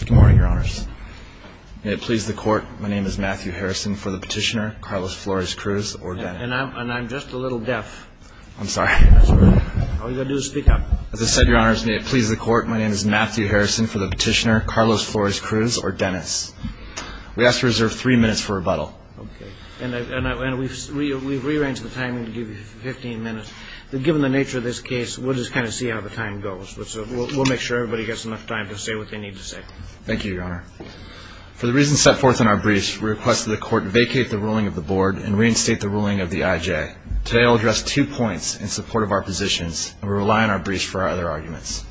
Good morning, your honors. May it please the court, my name is Matthew Harrison for the petitioner, Carlos Flores-Cruz or Dennis. And I'm just a little deaf. I'm sorry. All you've got to do is speak up. As I said, your honors, may it please the court, my name is Matthew Harrison for the petitioner, Carlos Flores-Cruz or Dennis. We ask to reserve three minutes for rebuttal. Okay. And we've rearranged the timing to give you 15 minutes. Given the nature of this case, we'll just kind of see how the time goes. We'll make sure everybody gets enough time to say what they need to say. Thank you, your honor. For the reasons set forth in our briefs, we request that the court vacate the ruling of the board and reinstate the ruling of the IJ. Today I'll address two points in support of our positions, and we rely on our briefs for our other arguments.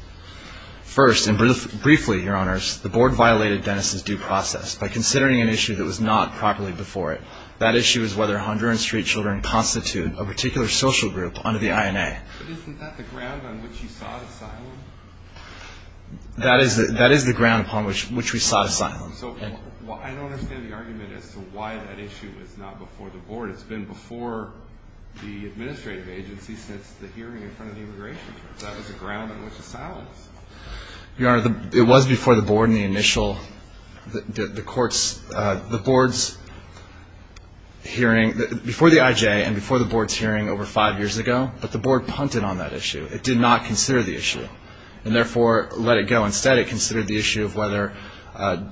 First, and briefly, your honors, the board violated Dennis's due process by considering an issue that was not properly before it. That issue is whether Honduran street children constitute a particular social group under the INA. But isn't that the ground on which he sought asylum? That is the ground upon which we sought asylum. So I don't understand the argument as to why that issue was not before the board. It's been before the administrative agency since the hearing in front of the immigration court. That was the ground on which the asylum was. Your honor, it was before the board in the initial, the court's, the board's hearing, before the IJ and before the board's hearing over five years ago, but the board punted on that issue. It did not consider the issue, and therefore let it go. Instead it considered the issue of whether,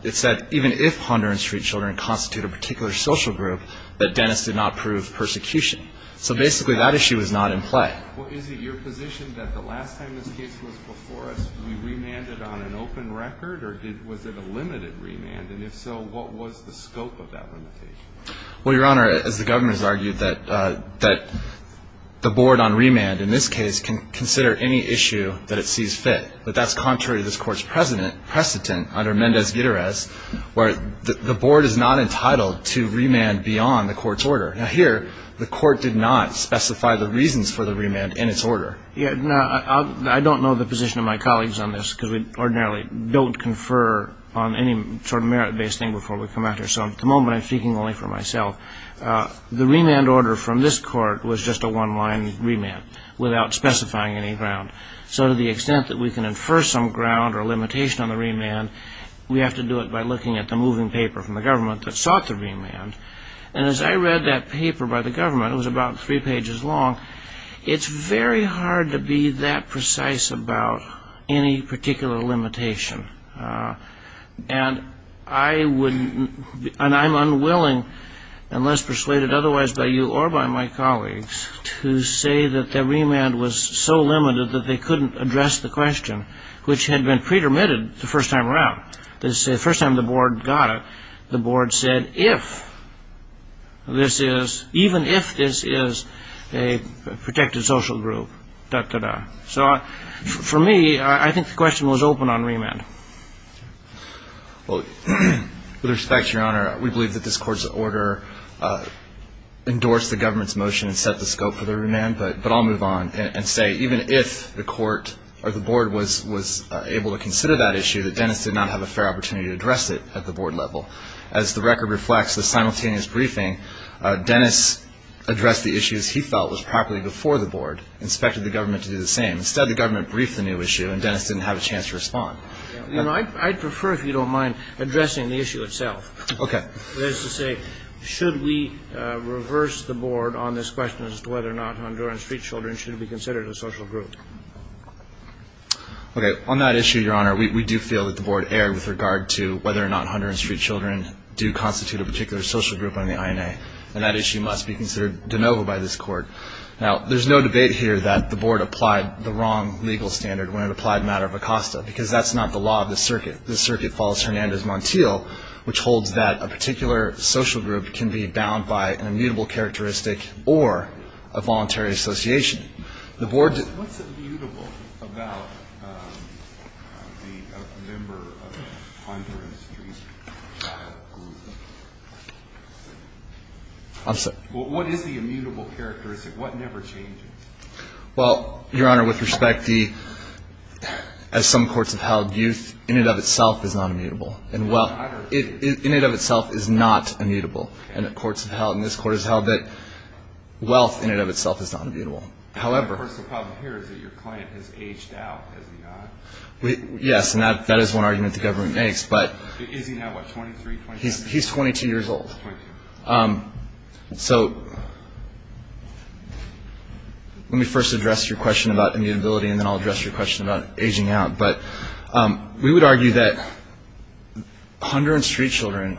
it said even if Honduran street children constitute a particular social group, that Dennis did not prove persecution. So basically that issue is not in play. Well, is it your position that the last time this case was before us, we remanded on an open record? Or was it a limited remand? And if so, what was the scope of that limitation? Well, your honor, as the governor's argued, that the board on remand in this case can consider any issue that it sees fit. But that's contrary to this court's precedent under Mendez-Guitarez, where the board is not entitled to remand beyond the court's order. Now here, the court did not specify the reasons for the remand in its order. I don't know the position of my colleagues on this, because we ordinarily don't confer on any sort of merit-based thing before we come out here. So at the moment I'm speaking only for myself. The remand order from this court was just a one-line remand without specifying any ground. So to the extent that we can infer some ground or limitation on the remand, we have to do it by looking at the moving paper from the government that sought the remand. And as I read that paper by the government, it was about three pages long, it's very hard to be that precise about any particular limitation. And I'm unwilling, unless persuaded otherwise by you or by my colleagues, to say that the remand was so limited that they couldn't address the question, which had been pre-permitted the first time around. The first time the board got it, the board said, even if this is a protected social group, da-da-da. So for me, I think the question was open on remand. Well, with respect, Your Honor, we believe that this court's order endorsed the government's motion and set the scope for the remand, but I'll move on and say, even if the court or the board was able to consider that issue, that Dennis did not have a fair opportunity to address it at the board level. As the record reflects, the simultaneous briefing, Dennis addressed the issues he felt was properly before the board, inspected the government to do the same. Instead, the government briefed the new issue, and Dennis didn't have a chance to respond. I'd prefer, if you don't mind, addressing the issue itself. Okay. That is to say, should we reverse the board on this question as to whether or not Honduran street children should be considered a social group? Okay. On that issue, Your Honor, we do feel that the board erred with regard to whether or not Honduran street children do constitute a particular social group on the INA, and that issue must be considered de novo by this court. Now, there's no debate here that the board applied the wrong legal standard when it applied the matter of Acosta, because that's not the law of the circuit. The circuit follows Hernandez Montiel, which holds that a particular social group can be bound by an immutable characteristic or a voluntary association. What's immutable about the member of the Honduran street child group? I'm sorry? What is the immutable characteristic? What never changes? Well, Your Honor, with respect, as some courts have held, youth in and of itself is not immutable. In and of itself is not immutable. And courts have held, and this court has held, that wealth in and of itself is not immutable. However. Of course, the problem here is that your client has aged out, has he not? Yes, and that is one argument the government makes, but. Is he now, what, 23, 27? He's 22 years old. 22. So let me first address your question about immutability, and then I'll address your question about aging out. We would argue that Honduran street children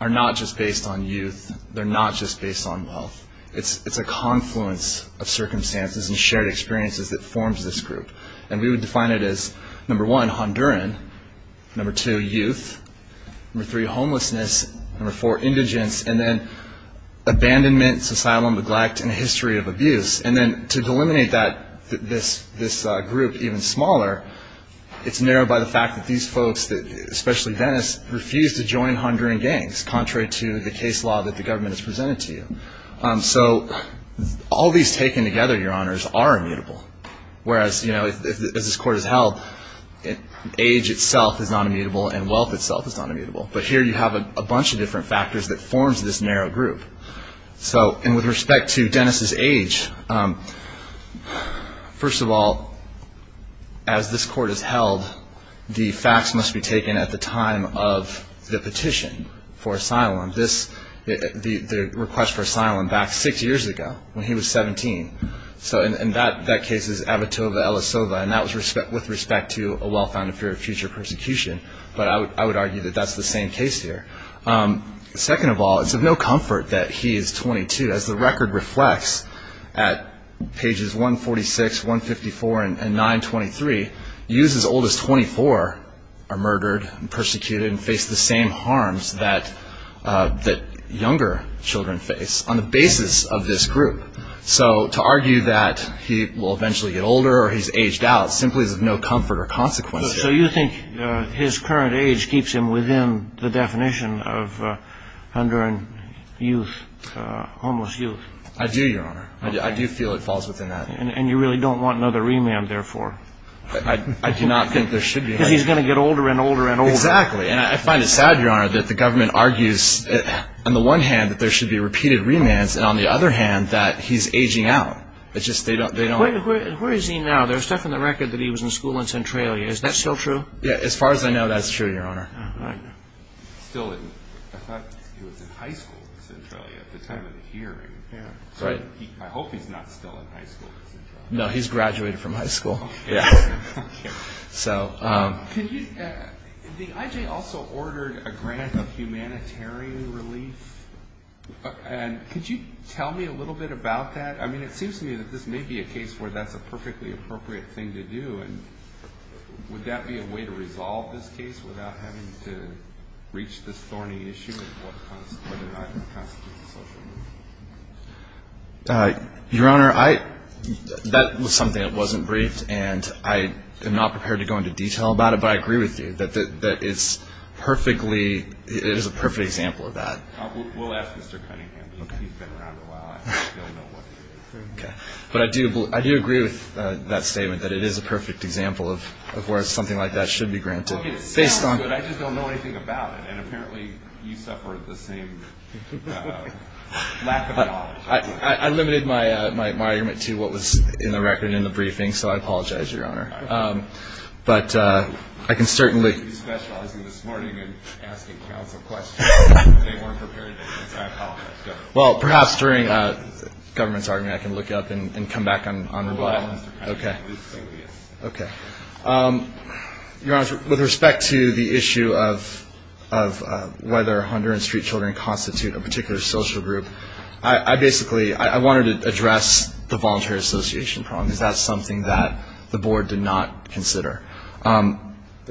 are not just based on youth. They're not just based on wealth. It's a confluence of circumstances and shared experiences that forms this group. And we would define it as, number one, Honduran, number two, youth, number three, homelessness, number four, indigence, and then abandonment, societal neglect, and a history of abuse. And then to delimit that, this group even smaller, it's narrowed by the fact that these folks, especially Dennis, refuse to join Honduran gangs, contrary to the case law that the government has presented to you. So all these taken together, Your Honors, are immutable. Whereas, you know, as this court has held, age itself is not immutable and wealth itself is not immutable. But here you have a bunch of different factors that forms this narrow group. So, and with respect to Dennis' age, first of all, as this court has held, the facts must be taken at the time of the petition for asylum, the request for asylum back six years ago, when he was 17. So in that case, it's Abitoba Elisova, and that was with respect to a well-founded fear of future persecution. But I would argue that that's the same case here. Second of all, it's of no comfort that he is 22. As the record reflects at pages 146, 154, and 923, youths as old as 24 are murdered and persecuted and face the same harms that younger children face on the basis of this group. So to argue that he will eventually get older or he's aged out simply is of no comfort or consequence. So you think his current age keeps him within the definition of Honduran youth, homeless youth? I do, Your Honor. I do feel it falls within that. And you really don't want another remand, therefore? I do not think there should be. Because he's going to get older and older and older. Exactly. And I find it sad, Your Honor, that the government argues, on the one hand, that there should be repeated remands and, on the other hand, that he's aging out. Where is he now? There's stuff in the record that he was in school in Centralia. Is that still true? Yeah, as far as I know, that's true, Your Honor. Still in? I thought he was in high school in Centralia at the time of the hearing. I hope he's not still in high school in Centralia. No, he's graduated from high school. The IJ also ordered a grant of humanitarian relief. Could you tell me a little bit about that? I mean, it seems to me that this may be a case where that's a perfectly appropriate thing to do, and would that be a way to resolve this case without having to reach this thorny issue of whether or not it constitutes a social movement? Your Honor, that was something that wasn't briefed, and I am not prepared to go into detail about it, but I agree with you that it is a perfect example of that. We'll ask Mr. Cunningham. He's been around a while. But I do agree with that statement that it is a perfect example of where something like that should be granted. I just don't know anything about it, and apparently you suffer the same lack of knowledge. I limited my argument to what was in the record in the briefing, so I apologize, Your Honor. But I can certainly... He's specializing this morning in asking counsel questions. They weren't prepared to answer. I apologize, Your Honor. Well, perhaps during the government's argument I can look it up and come back on rebuttal. Go ahead, Mr. Cunningham. Okay. Your Honor, with respect to the issue of whether Honduran street children constitute a particular social group, I basically wanted to address the voluntary association problem, because that's something that the board did not consider. The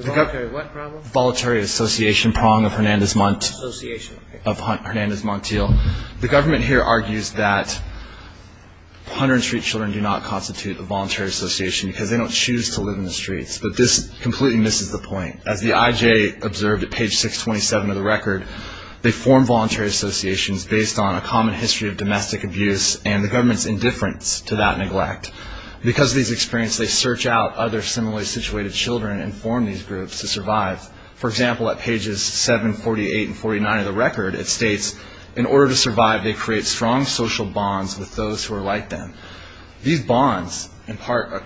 voluntary what problem? Voluntary association prong of Hernandez Montiel. The government here argues that Honduran street children do not constitute a voluntary association because they don't choose to live in the streets. But this completely misses the point. As the IJ observed at page 627 of the record, they form voluntary associations based on a common history of domestic abuse and the government's indifference to that neglect. Because of these experiences, they search out other similarly situated children and form these groups to survive. For example, at pages 7, 48, and 49 of the record, it states, in order to survive, they create strong social bonds with those who are like them. These bonds impart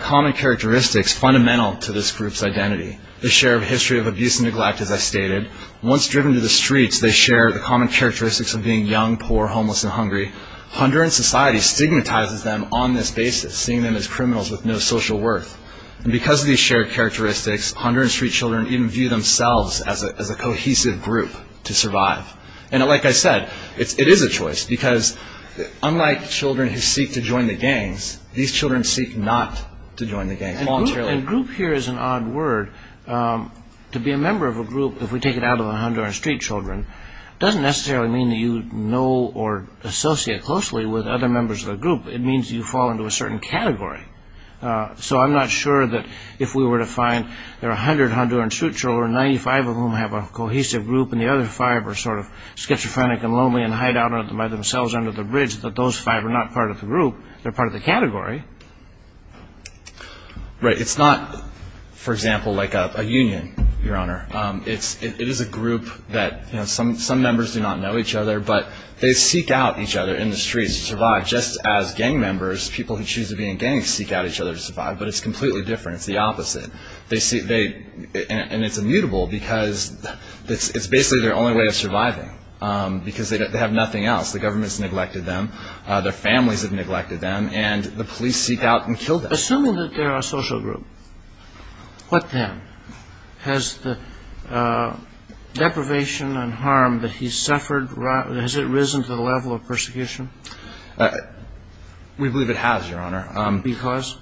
common characteristics fundamental to this group's identity. They share a history of abuse and neglect, as I stated. Once driven to the streets, they share the common characteristics of being young, poor, homeless, and hungry. Honduran society stigmatizes them on this basis, seeing them as criminals with no social worth. And because of these shared characteristics, Honduran street children even view themselves as a cohesive group to survive. And like I said, it is a choice because unlike children who seek to join the gangs, these children seek not to join the gangs voluntarily. And group here is an odd word. To be a member of a group, if we take it out of the Honduran street children, it doesn't necessarily mean that you know or associate closely with other members of the group. It means you fall into a certain category. So I'm not sure that if we were to find there are 100 Honduran street children, 95 of whom have a cohesive group, and the other five are sort of schizophrenic and lonely and hide out by themselves under the bridge, that those five are not part of the group, they're part of the category. Right. It's not, for example, like a union, Your Honor. It is a group that some members do not know each other, but they seek out each other in the streets to survive just as gang members, people who choose to be in gangs, seek out each other to survive, but it's completely different. It's the opposite. And it's immutable because it's basically their only way of surviving because they have nothing else. The government has neglected them. Their families have neglected them. And the police seek out and kill them. Assuming that they're a social group, what then? Has the deprivation and harm that he's suffered, has it risen to the level of persecution? We believe it has, Your Honor. Because?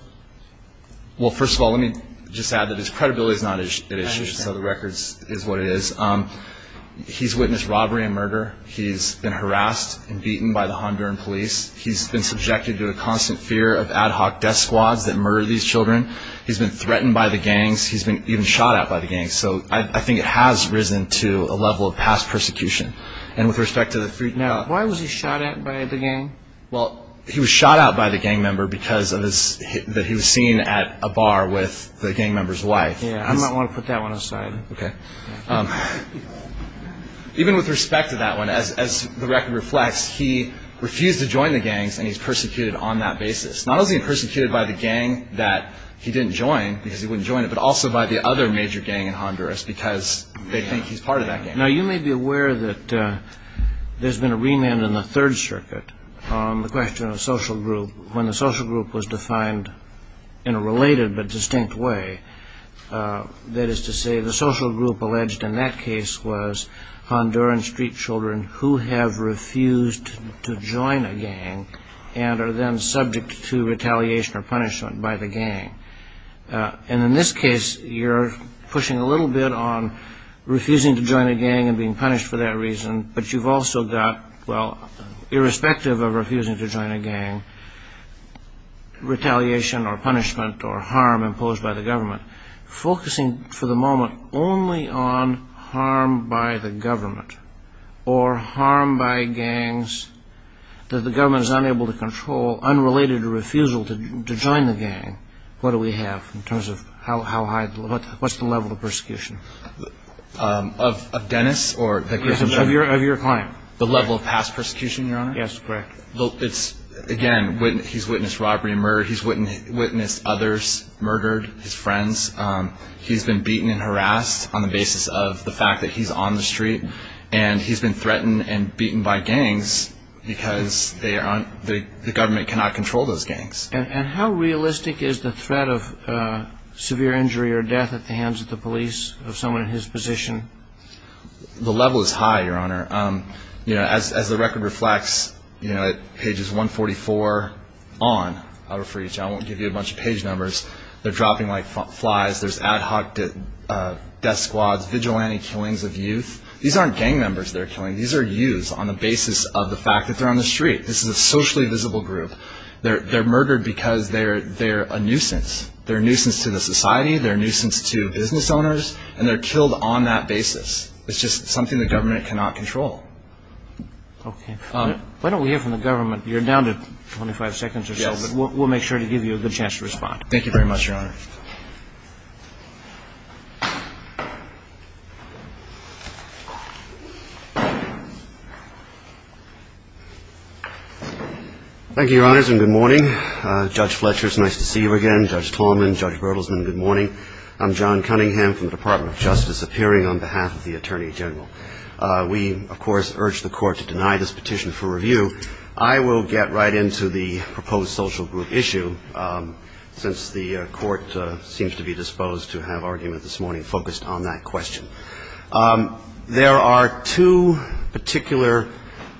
Well, first of all, let me just add that his credibility is not at issue, so the record is what it is. He's witnessed robbery and murder. He's been harassed and beaten by the Honduran police. He's been subjected to a constant fear of ad hoc death squads that murder these children. He's been threatened by the gangs. He's been even shot at by the gangs. So I think it has risen to a level of past persecution. Now, why was he shot at by the gang? Well, he was shot at by the gang member because he was seen at a bar with the gang member's wife. I might want to put that one aside. Okay. Even with respect to that one, as the record reflects, he refused to join the gangs, and he's persecuted on that basis. Not only is he persecuted by the gang that he didn't join because he wouldn't join it, but also by the other major gang in Honduras because they think he's part of that gang. Now, you may be aware that there's been a remand in the Third Circuit on the question of social group. When the social group was defined in a related but distinct way, that is to say the social group alleged in that case was Honduran street children who have refused to join a gang and are then subject to retaliation or punishment by the gang. And in this case, you're pushing a little bit on refusing to join a gang and being punished for that reason, but you've also got, well, irrespective of refusing to join a gang, retaliation or punishment or harm imposed by the government, focusing for the moment only on harm by the government or harm by gangs that the government is unable to control, unrelated to refusal to join the gang, what do we have in terms of how high, what's the level of persecution? Of Dennis? Of your client. The level of past persecution, Your Honor? Yes, correct. Again, he's witnessed robbery and murder. He's witnessed others murdered, his friends. He's been beaten and harassed on the basis of the fact that he's on the street, and he's been threatened and beaten by gangs because the government cannot control those gangs. And how realistic is the threat of severe injury or death at the hands of the police of someone in his position? The level is high, Your Honor. As the record reflects at pages 144 on, I'll refer you to it. I won't give you a bunch of page numbers. They're dropping like flies. There's ad hoc death squads, vigilante killings of youth. These aren't gang members they're killing. These are youths on the basis of the fact that they're on the street. This is a socially visible group. They're murdered because they're a nuisance. They're a nuisance to the society. They're a nuisance to business owners, and they're killed on that basis. It's just something the government cannot control. Okay. Why don't we hear from the government? You're down to 25 seconds or so, but we'll make sure to give you a good chance to respond. Thank you very much, Your Honor. Thank you, Your Honors, and good morning. Judge Fletcher, it's nice to see you again. Judge Tallman, Judge Bertelsmann, good morning. I'm John Cunningham from the Department of Justice, appearing on behalf of the Attorney General. We, of course, urge the Court to deny this petition for review. I will get right into the proposed social group issue since the Court seems to be disposed to have argument this morning focused on that question. There are two particular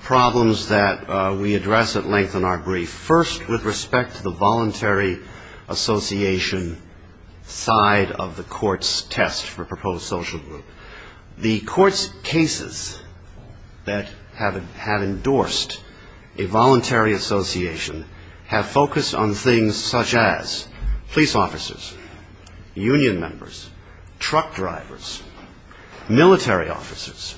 problems that we address at length in our brief. First, with respect to the voluntary association side of the Court's test for proposed social group. The Court's cases that have endorsed a voluntary association have focused on things such as police officers, union members, truck drivers, military officers.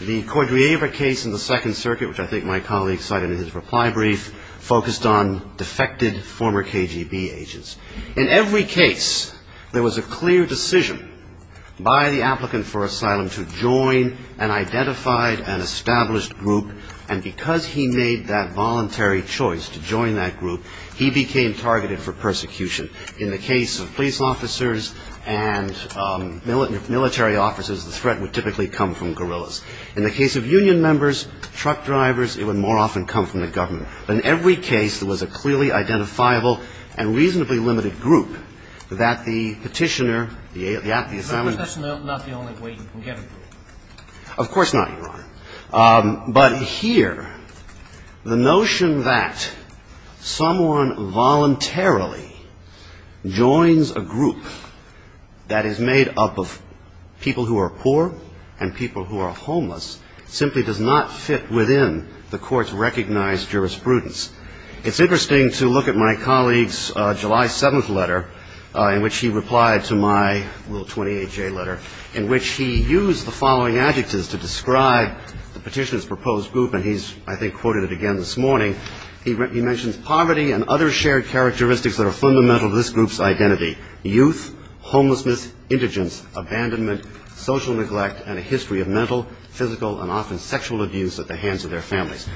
The Cordiaver case in the Second Circuit, which I think my colleague cited in his reply brief, focused on defected former KGB agents. In every case, there was a clear decision by the applicant for asylum to join an identified and established group, and because he made that voluntary choice to join that group, he became targeted for persecution. In the case of police officers and military officers, the threat would typically come from guerrillas. In the case of union members, truck drivers, it would more often come from the government. But in every case, there was a clearly identifiable and reasonably limited group that the petitioner, the applicant for asylum. But that's not the only way you can get approval. Of course not, Your Honor. But here, the notion that someone voluntarily joins a group that is made up of people who are poor and people who are homeless simply does not fit within the Court's recognized jurisprudence. It's interesting to look at my colleague's July 7th letter, in which he replied to my little 28-J letter, in which he used the following adjectives to describe the petitioner's proposed group, and he's, I think, quoted it again this morning. He mentions poverty and other shared characteristics that are fundamental to this group's identity, youth, homelessness, indigence, abandonment, social neglect, and a history of mental, physical, and often sexual abuse at the hands of their families.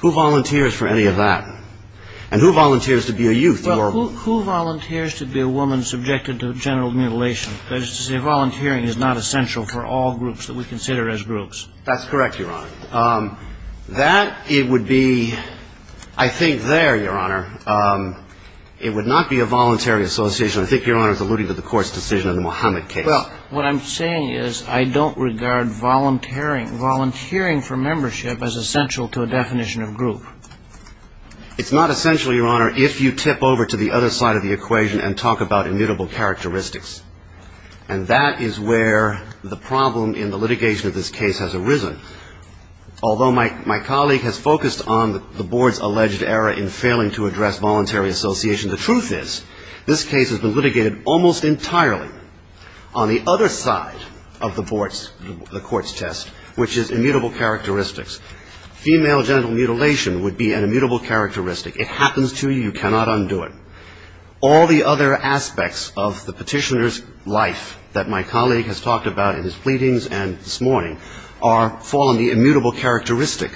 Who volunteers for any of that? And who volunteers to be a youth? Well, who volunteers to be a woman subjected to general mutilation? That is to say, volunteering is not essential for all groups that we consider as groups. That's correct, Your Honor. That, it would be, I think there, Your Honor, it would not be a voluntary association. I think Your Honor is alluding to the Court's decision in the Mohammed case. Well, what I'm saying is I don't regard volunteering for membership as essential to a definition of group. It's not essential, Your Honor, if you tip over to the other side of the equation and talk about immutable characteristics, and that is where the problem in the litigation of this case has arisen. Although my colleague has focused on the Board's alleged error in failing to address voluntary association, the truth is this case has been litigated almost entirely on the other side of the Court's test, which is immutable characteristics. Female genital mutilation would be an immutable characteristic. It happens to you. You cannot undo it. All the other aspects of the petitioner's life that my colleague has talked about in his pleadings and this morning fall on the immutable characteristic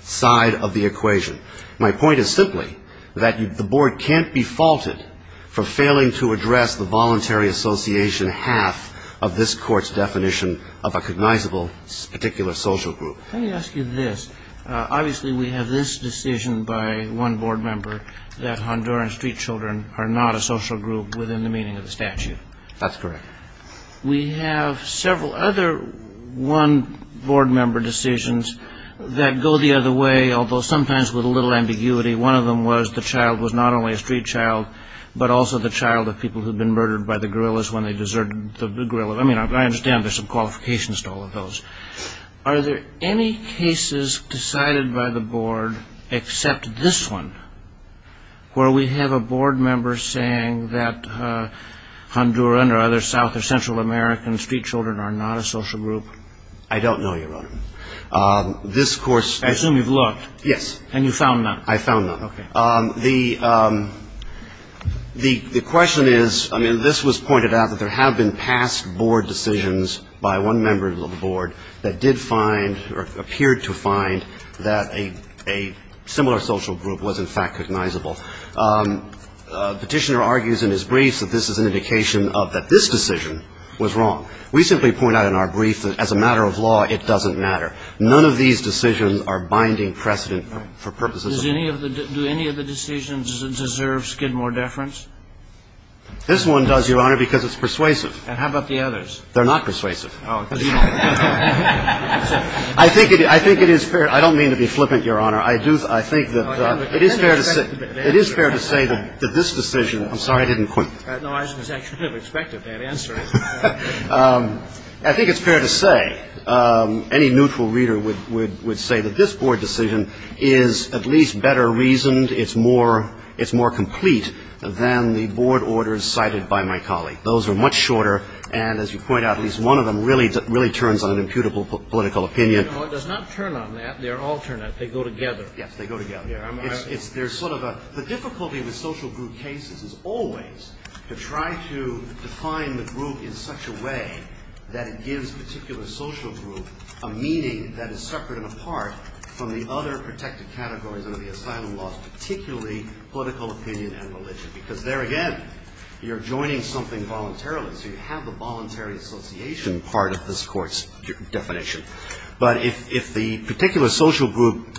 side of the equation. My point is simply that the Board can't be faulted for failing to address the voluntary association half of this Court's definition of a cognizable particular social group. Let me ask you this. Obviously, we have this decision by one Board member that Honduran street children are not a social group within the meaning of the statute. That's correct. We have several other one Board member decisions that go the other way, although sometimes with a little ambiguity. One of them was the child was not only a street child, but also the child of people who had been murdered by the guerrillas when they deserted the guerrilla. I mean, I understand there's some qualifications to all of those. Are there any cases decided by the Board except this one where we have a Board member saying that Honduran or other South or Central American street children are not a social group? I don't know, Your Honor. This Court's- I assume you've looked. Yes. And you found none. I found none. Okay. The question is, I mean, this was pointed out that there have been past Board decisions by one member of the Board that did find or appeared to find that a similar social group was in fact cognizable. Petitioner argues in his briefs that this is an indication of that this decision was wrong. We simply point out in our brief that as a matter of law, it doesn't matter. None of these decisions are binding precedent for purposes of- Does any of the decisions deserve skid more deference? This one does, Your Honor, because it's persuasive. And how about the others? They're not persuasive. Oh, because you don't- I think it is fair. I don't mean to be flippant, Your Honor. I think that it is fair to say that this decision- I'm sorry, I didn't quit. No, I was actually kind of expecting that answer. I think it's fair to say, any neutral reader would say that this Board decision is at least better reasoned, it's more complete than the Board orders cited by my colleague. Those are much shorter, and as you point out, at least one of them really turns on an imputable political opinion. No, it does not turn on that. They're alternate. They go together. Yes, they go together. There's sort of a- The difficulty with social group cases is always to try to define the group in such a way that it gives a particular social group a meaning that is separate and apart from the other protected categories under the asylum laws, particularly political opinion and religion. Because there again, you're joining something voluntarily, so you have the voluntary association part of this Court's definition. But if the particular social group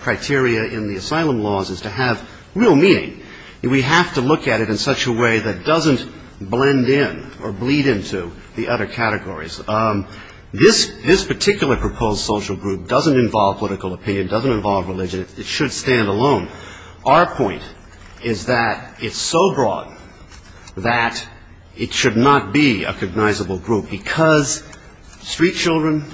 criteria in the asylum laws is to have real meaning, we have to look at it in such a way that doesn't blend in or bleed into the other categories. This particular proposed social group doesn't involve political opinion, doesn't involve religion. It should stand alone. Our point is that it's so broad that it should not be a cognizable group because street children,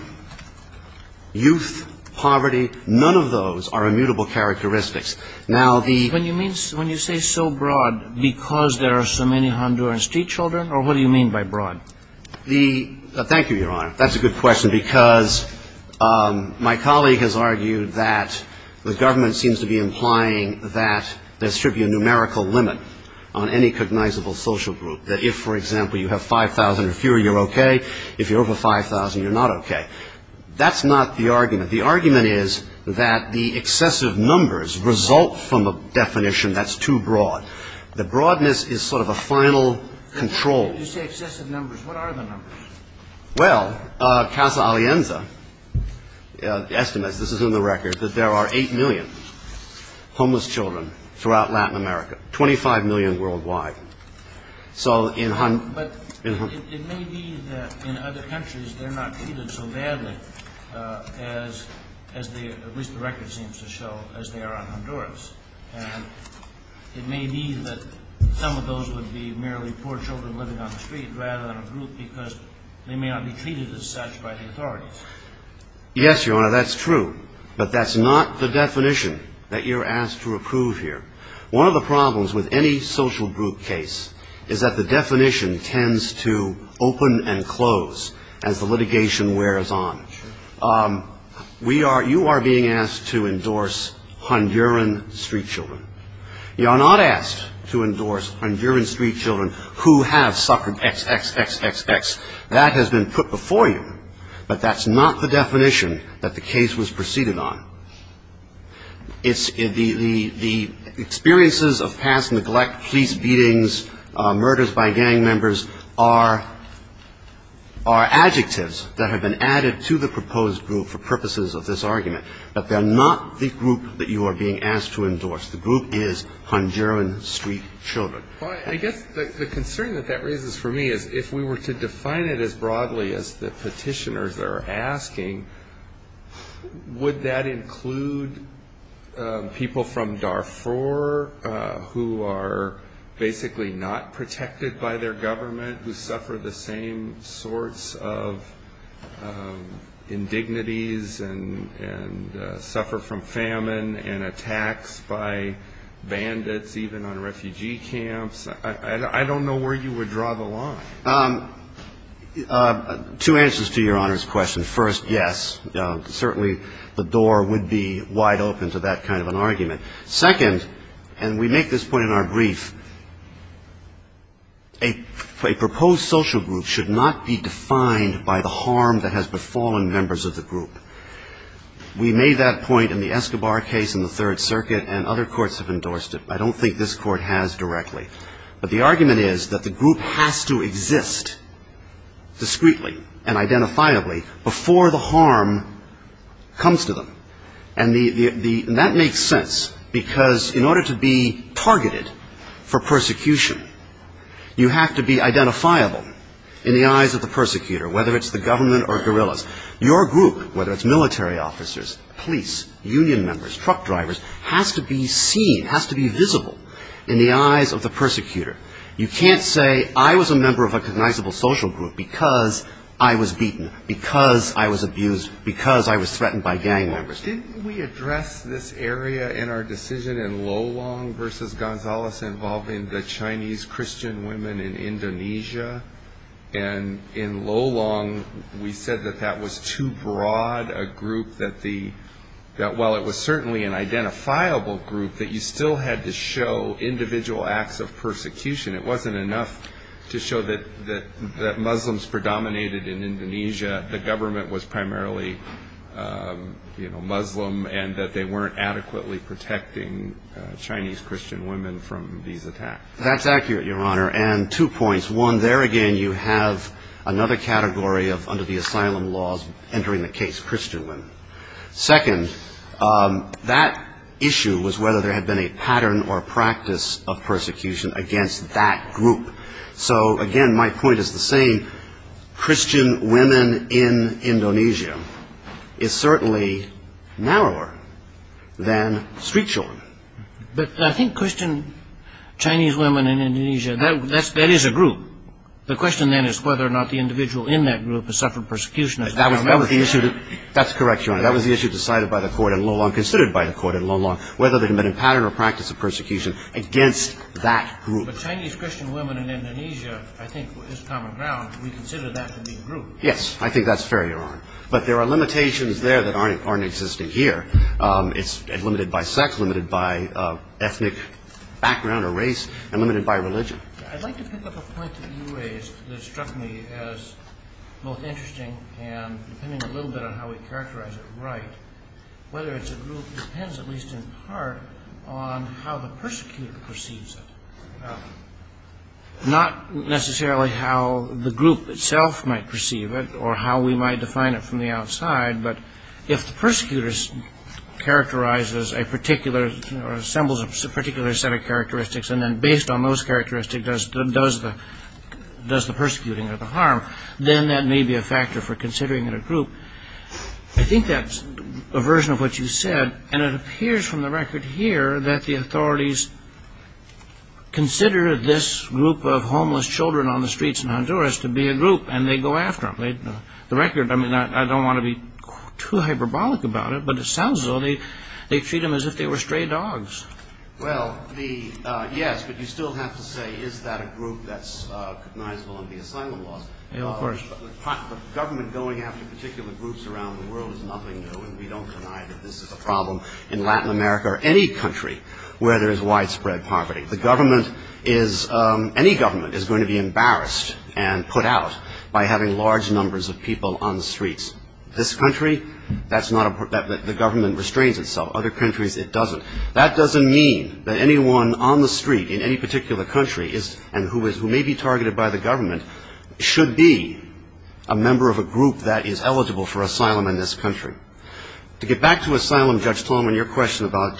youth, poverty, none of those are immutable characteristics. Now, the- When you say so broad because there are so many Honduran street children, or what do you mean by broad? Thank you, Your Honor. That's a good question because my colleague has argued that the government seems to be implying that there should be a numerical limit on any cognizable social group. That if, for example, you have 5,000 or fewer, you're okay. If you're over 5,000, you're not okay. That's not the argument. The argument is that the excessive numbers result from a definition that's too broad. The broadness is sort of a final control. You say excessive numbers. What are the numbers? Well, Casa Alienza estimates, this is in the record, that there are 8 million homeless children throughout Latin America, 25 million worldwide. So in- But it may be that in other countries they're not treated so badly as they, at least the record seems to show, as they are on Honduras. And it may be that some of those would be merely poor children living on the street rather than a group because they may not be treated as such by the authorities. Yes, Your Honor, that's true. But that's not the definition that you're asked to approve here. One of the problems with any social group case is that the definition tends to open and close as the litigation wears on. You are being asked to endorse Honduran street children. You are not asked to endorse Honduran street children who have suffered X, X, X, X, X. That has been put before you. But that's not the definition that the case was proceeded on. The experiences of past neglect, police beatings, murders by gang members are adjectives that have been added to the proposed group for purposes of this argument. But they're not the group that you are being asked to endorse. The group is Honduran street children. Well, I guess the concern that that raises for me is if we were to define it as broadly as the petitioners are asking, would that include people from Darfur who are basically not indignities and suffer from famine and attacks by bandits even on refugee camps? I don't know where you would draw the line. Two answers to Your Honor's question. First, yes, certainly the door would be wide open to that kind of an argument. Second, and we make this point in our brief, a proposed social group should not be defined by the harm that has befallen members of the group. We made that point in the Escobar case in the Third Circuit, and other courts have endorsed it. I don't think this court has directly. But the argument is that the group has to exist discreetly and identifiably before the harm comes to them. And that makes sense because in order to be targeted for persecution, you have to be identifiable in the eyes of the persecutor, whether it's the government or guerrillas. Your group, whether it's military officers, police, union members, truck drivers, has to be seen, has to be visible in the eyes of the persecutor. You can't say I was a member of a recognizable social group because I was beaten, because I was abused, because I was threatened by gang members. Didn't we address this area in our decision in Lolong versus Gonzalez involving the Chinese Christian women in Indonesia? And in Lolong, we said that that was too broad a group, that while it was certainly an identifiable group, that you still had to show individual acts of persecution. It wasn't enough to show that Muslims predominated in Indonesia. The government was primarily Muslim and that they weren't adequately protecting Chinese Christian women from these attacks. That's accurate, Your Honor. And two points. One, there again you have another category of under the asylum laws entering the case Christian women. Second, that issue was whether there had been a pattern or practice of persecution against that group. So, again, my point is the same. Christian women in Indonesia is certainly narrower than street children. But I think Christian Chinese women in Indonesia, that is a group. The question then is whether or not the individual in that group has suffered persecution. That's correct, Your Honor. That was the issue decided by the court in Lolong, considered by the court in Lolong, whether there had been a pattern or practice of persecution against that group. But Chinese Christian women in Indonesia, I think, is common ground. We consider that to be a group. Yes. I think that's fair, Your Honor. But there are limitations there that aren't existing here. I'd like to pick up a point that you raised that struck me as both interesting and depending a little bit on how we characterize it right, whether it's a group depends at least in part on how the persecutor perceives it. Not necessarily how the group itself might perceive it or how we might define it from the outside, but if the persecutor characterizes a particular or assembles a particular set of characteristics and then based on those characteristics does the persecuting or the harm, then that may be a factor for considering it a group. I think that's a version of what you said, and it appears from the record here that the authorities consider this group of homeless children on the streets in Honduras to be a group and they go after them. The record, I mean, I don't want to be too hyperbolic about it, but it sounds as though they treat them as if they were stray dogs. Well, yes, but you still have to say is that a group that's recognizable under the asylum laws. Of course. The government going after particular groups around the world is nothing new, and we don't deny that this is a problem in Latin America or any country where there is widespread poverty. The government is, any government is going to be embarrassed and put out by having large numbers of people on the streets. This country, that's not a, the government restrains itself. Other countries it doesn't. That doesn't mean that anyone on the street in any particular country is, and who may be targeted by the government, should be a member of a group that is eligible for asylum in this country. To get back to asylum, Judge Tolman, your question about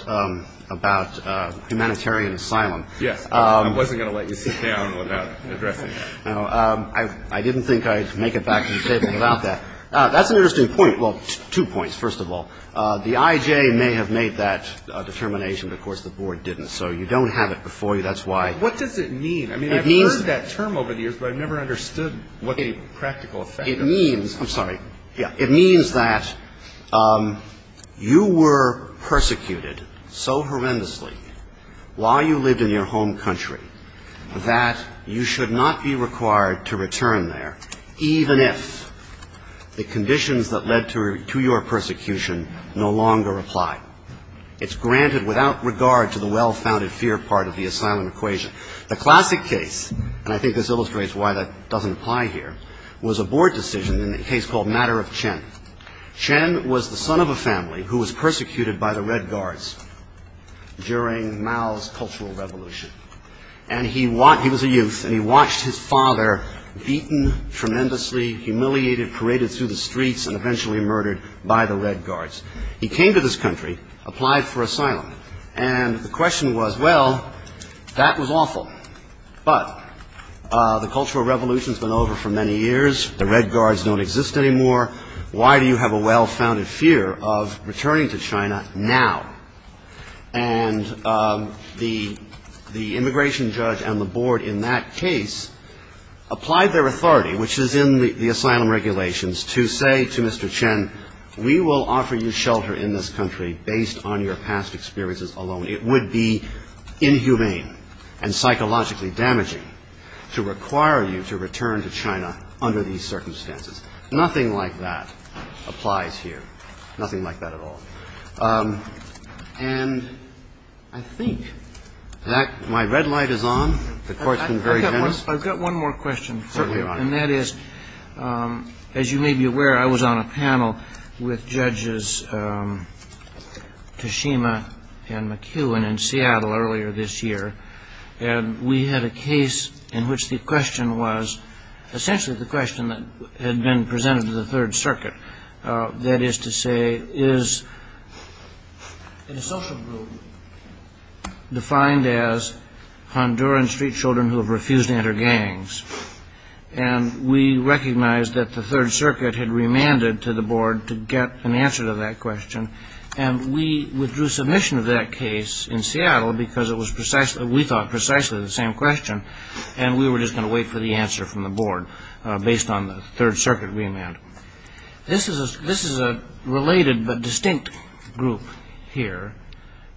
humanitarian asylum. Yes, I wasn't going to let you sit down without addressing that. No, I didn't think I'd make it back to the table without that. That's an interesting point. Well, two points, first of all. The IJ may have made that determination, but of course the Board didn't. So you don't have it before you. That's why. What does it mean? I mean, I've heard that term over the years, but I've never understood what the practical effect of it is. It means, I'm sorry. Yeah. It means that you were persecuted so horrendously while you lived in your home country that you should not be required to return there, even if the conditions that led to your persecution no longer apply. It's granted without regard to the well-founded fear part of the asylum equation. The classic case, and I think this illustrates why that doesn't apply here, was a Board decision in a case called Matter of Chen. Chen was the son of a family who was persecuted by the Red Guards during Mao's Cultural Revolution. And he was a youth, and he watched his father beaten tremendously, humiliated, paraded through the streets, and eventually murdered by the Red Guards. He came to this country, applied for asylum, and the question was, well, that was awful. But the Cultural Revolution has been over for many years. The Red Guards don't exist anymore. Why do you have a well-founded fear of returning to China now? And the immigration judge and the Board in that case applied their authority, which is in the asylum regulations, to say to Mr. Chen, we will offer you shelter in this country based on your past experiences alone. It would be inhumane and psychologically damaging to require you to return to China under these circumstances. Nothing like that applies here. Nothing like that at all. And I think that my red light is on. The Court's been very generous. Certainly, Your Honor. And that is, as you may be aware, I was on a panel with Judges Tashima and McHugh in Seattle earlier this year. And we had a case in which the question was, essentially the question that had been presented to the Third Circuit, that is to say, is in a social group defined as Honduran street children who have refused to enter gangs? And we recognized that the Third Circuit had remanded to the Board to get an answer to that question. And we withdrew submission of that case in Seattle because we thought precisely the same question, and we were just going to wait for the answer from the Board based on the Third Circuit remand. This is a related but distinct group here.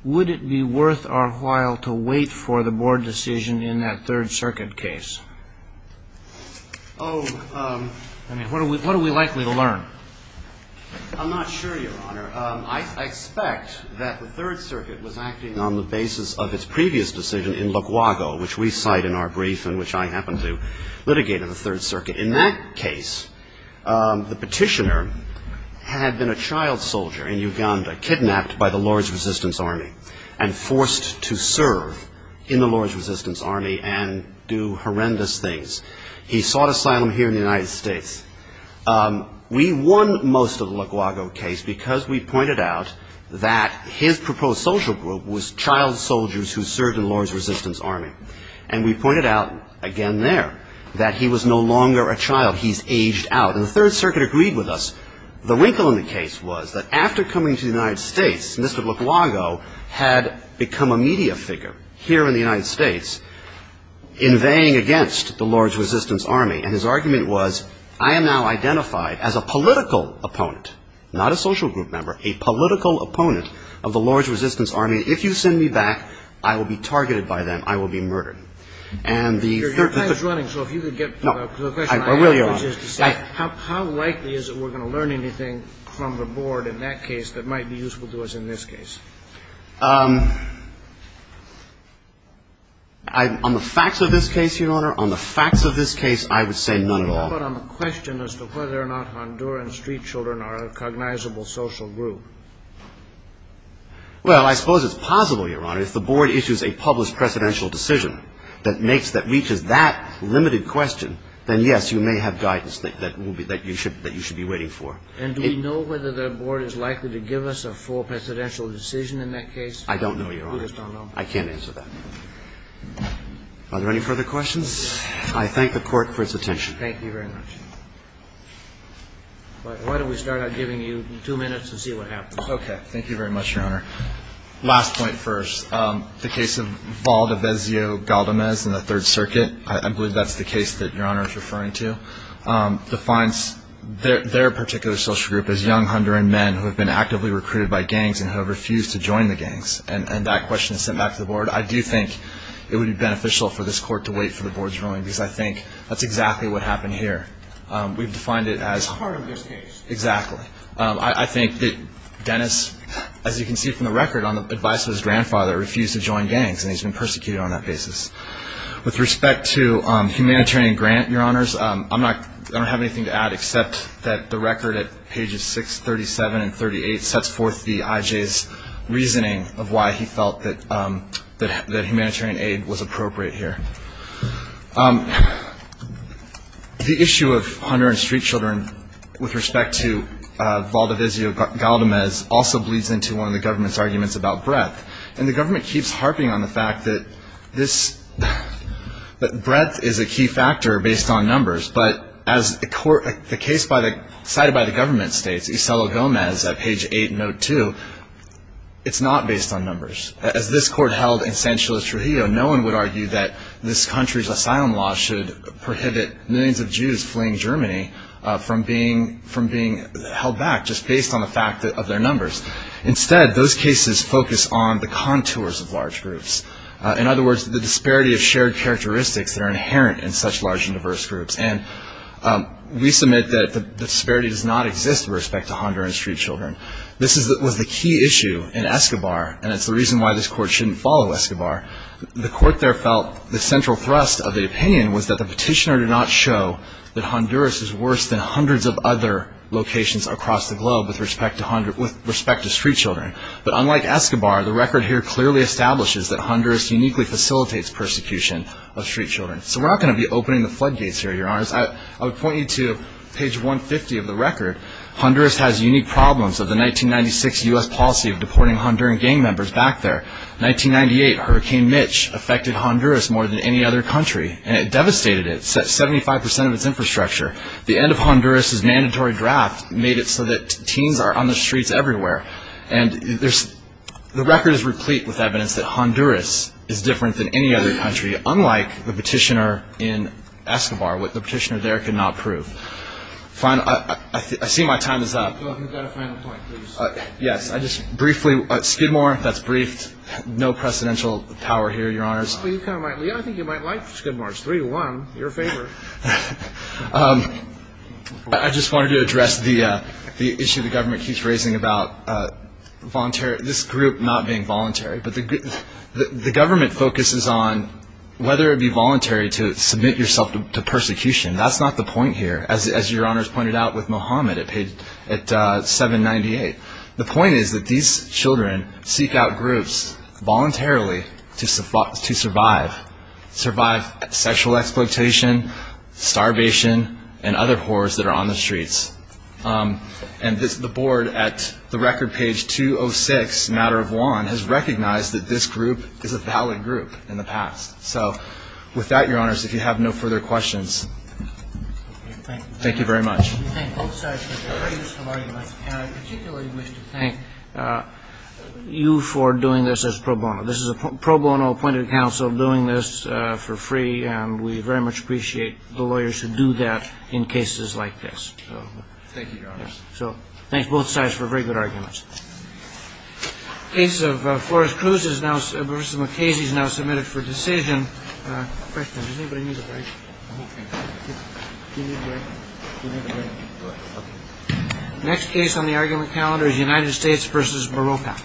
Would it be worth our while to wait for the Board decision in that Third Circuit case? Oh, I mean, what are we likely to learn? I'm not sure, Your Honor. I expect that the Third Circuit was acting on the basis of its previous decision in Luaguago, which we cite in our brief and which I happened to litigate in the Third Circuit. In that case, the petitioner had been a child soldier in Uganda kidnapped by the Lord's Resistance Army and forced to serve in the Lord's Resistance Army and do horrendous things. He sought asylum here in the United States. We won most of the Luaguago case because we pointed out that his proposed social group was child soldiers who served in the Lord's Resistance Army. And we pointed out, again there, that he was no longer a child. He's aged out. And the Third Circuit agreed with us. The wrinkle in the case was that after coming to the United States, Mr. Luaguago had become a media figure here in the United States, inveighing against the Lord's Resistance Army. And his argument was, I am now identified as a political opponent, not a social group member, a political opponent of the Lord's Resistance Army. I mean, if you send me back, I will be targeted by them. I will be murdered. And the Third Circuit... Your time is running, so if you could get to the question... I will, Your Honor. How likely is it we're going to learn anything from the board in that case that might be useful to us in this case? On the facts of this case, Your Honor, on the facts of this case, I would say none at all. But on the question as to whether or not Honduran street children are a cognizable social group. Well, I suppose it's possible, Your Honor. If the board issues a published precedential decision that makes that reaches that limited question, then, yes, you may have guidance that you should be waiting for. And do we know whether the board is likely to give us a full precedential decision in that case? I don't know, Your Honor. We just don't know. I can't answer that. Are there any further questions? I thank the Court for its attention. Thank you very much. Why don't we start out giving you two minutes and see what happens. Okay. Thank you very much, Your Honor. Last point first. The case of Valdivezio Galdamez in the Third Circuit, I believe that's the case that Your Honor is referring to, defines their particular social group as young Honduran men who have been actively recruited by gangs and who have refused to join the gangs. And that question is sent back to the board. I do think it would be beneficial for this Court to wait for the board's ruling because I think that's exactly what happened here. We've defined it as part of this case. Exactly. I think that Dennis, as you can see from the record, on the advice of his grandfather, refused to join gangs and he's been persecuted on that basis. With respect to humanitarian grant, Your Honors, I don't have anything to add except that the record at pages 6, 37, and 38 sets forth the IJ's reasoning of why he felt that humanitarian aid was appropriate here. The issue of Honduran street children with respect to Valdivezio Galdamez also bleeds into one of the government's arguments about breadth. And the government keeps harping on the fact that breadth is a key factor based on numbers. But as the case cited by the government states, Isolo Gomez, page 8, note 2, it's not based on numbers. As this Court held in San Chile Trujillo, no one would argue that this country's asylum law should prohibit millions of Jews fleeing Germany from being held back just based on the fact of their numbers. Instead, those cases focus on the contours of large groups. In other words, the disparity of shared characteristics that are inherent in such large and diverse groups. And we submit that the disparity does not exist with respect to Honduran street children. This was the key issue in Escobar, and it's the reason why this Court shouldn't follow Escobar. The Court there felt the central thrust of the opinion was that the petitioner did not show that Honduras is worse than hundreds of other locations across the globe with respect to street children. But unlike Escobar, the record here clearly establishes that Honduras uniquely facilitates persecution of street children. So we're not going to be opening the floodgates here, Your Honors. I would point you to page 150 of the record. Honduras has unique problems of the 1996 U.S. policy of deporting Honduran gang members back there. 1998, Hurricane Mitch affected Honduras more than any other country, and it devastated it, 75% of its infrastructure. The end of Honduras' mandatory draft made it so that teens are on the streets everywhere. And the record is replete with evidence that Honduras is different than any other country, unlike the petitioner in Escobar, what the petitioner there could not prove. I see my time is up. You've got a final point, please. Yes. Skidmore, that's briefed. No precedential power here, Your Honors. I think you might like Skidmore. It's 3-1, your favor. I just wanted to address the issue the government keeps raising about this group not being voluntary. But the government focuses on whether it would be voluntary to submit yourself to persecution. That's not the point here, as Your Honors pointed out with Mohammed at 798. The point is that these children seek out groups voluntarily to survive, sexual exploitation, starvation, and other horrors that are on the streets. And the board at the record page 206, Matter of Law, has recognized that this group is a valid group in the past. So with that, Your Honors, if you have no further questions. Thank you very much. Thank you both sides for a very useful argument. And I particularly wish to thank you for doing this as pro bono. This is a pro bono appointed counsel doing this for free, and we very much appreciate the lawyers who do that in cases like this. Thank you, Your Honors. So thanks both sides for very good arguments. The case of Flores-Cruz is now submitted for decision. Next case on the argument calendar is United States v. Morocco.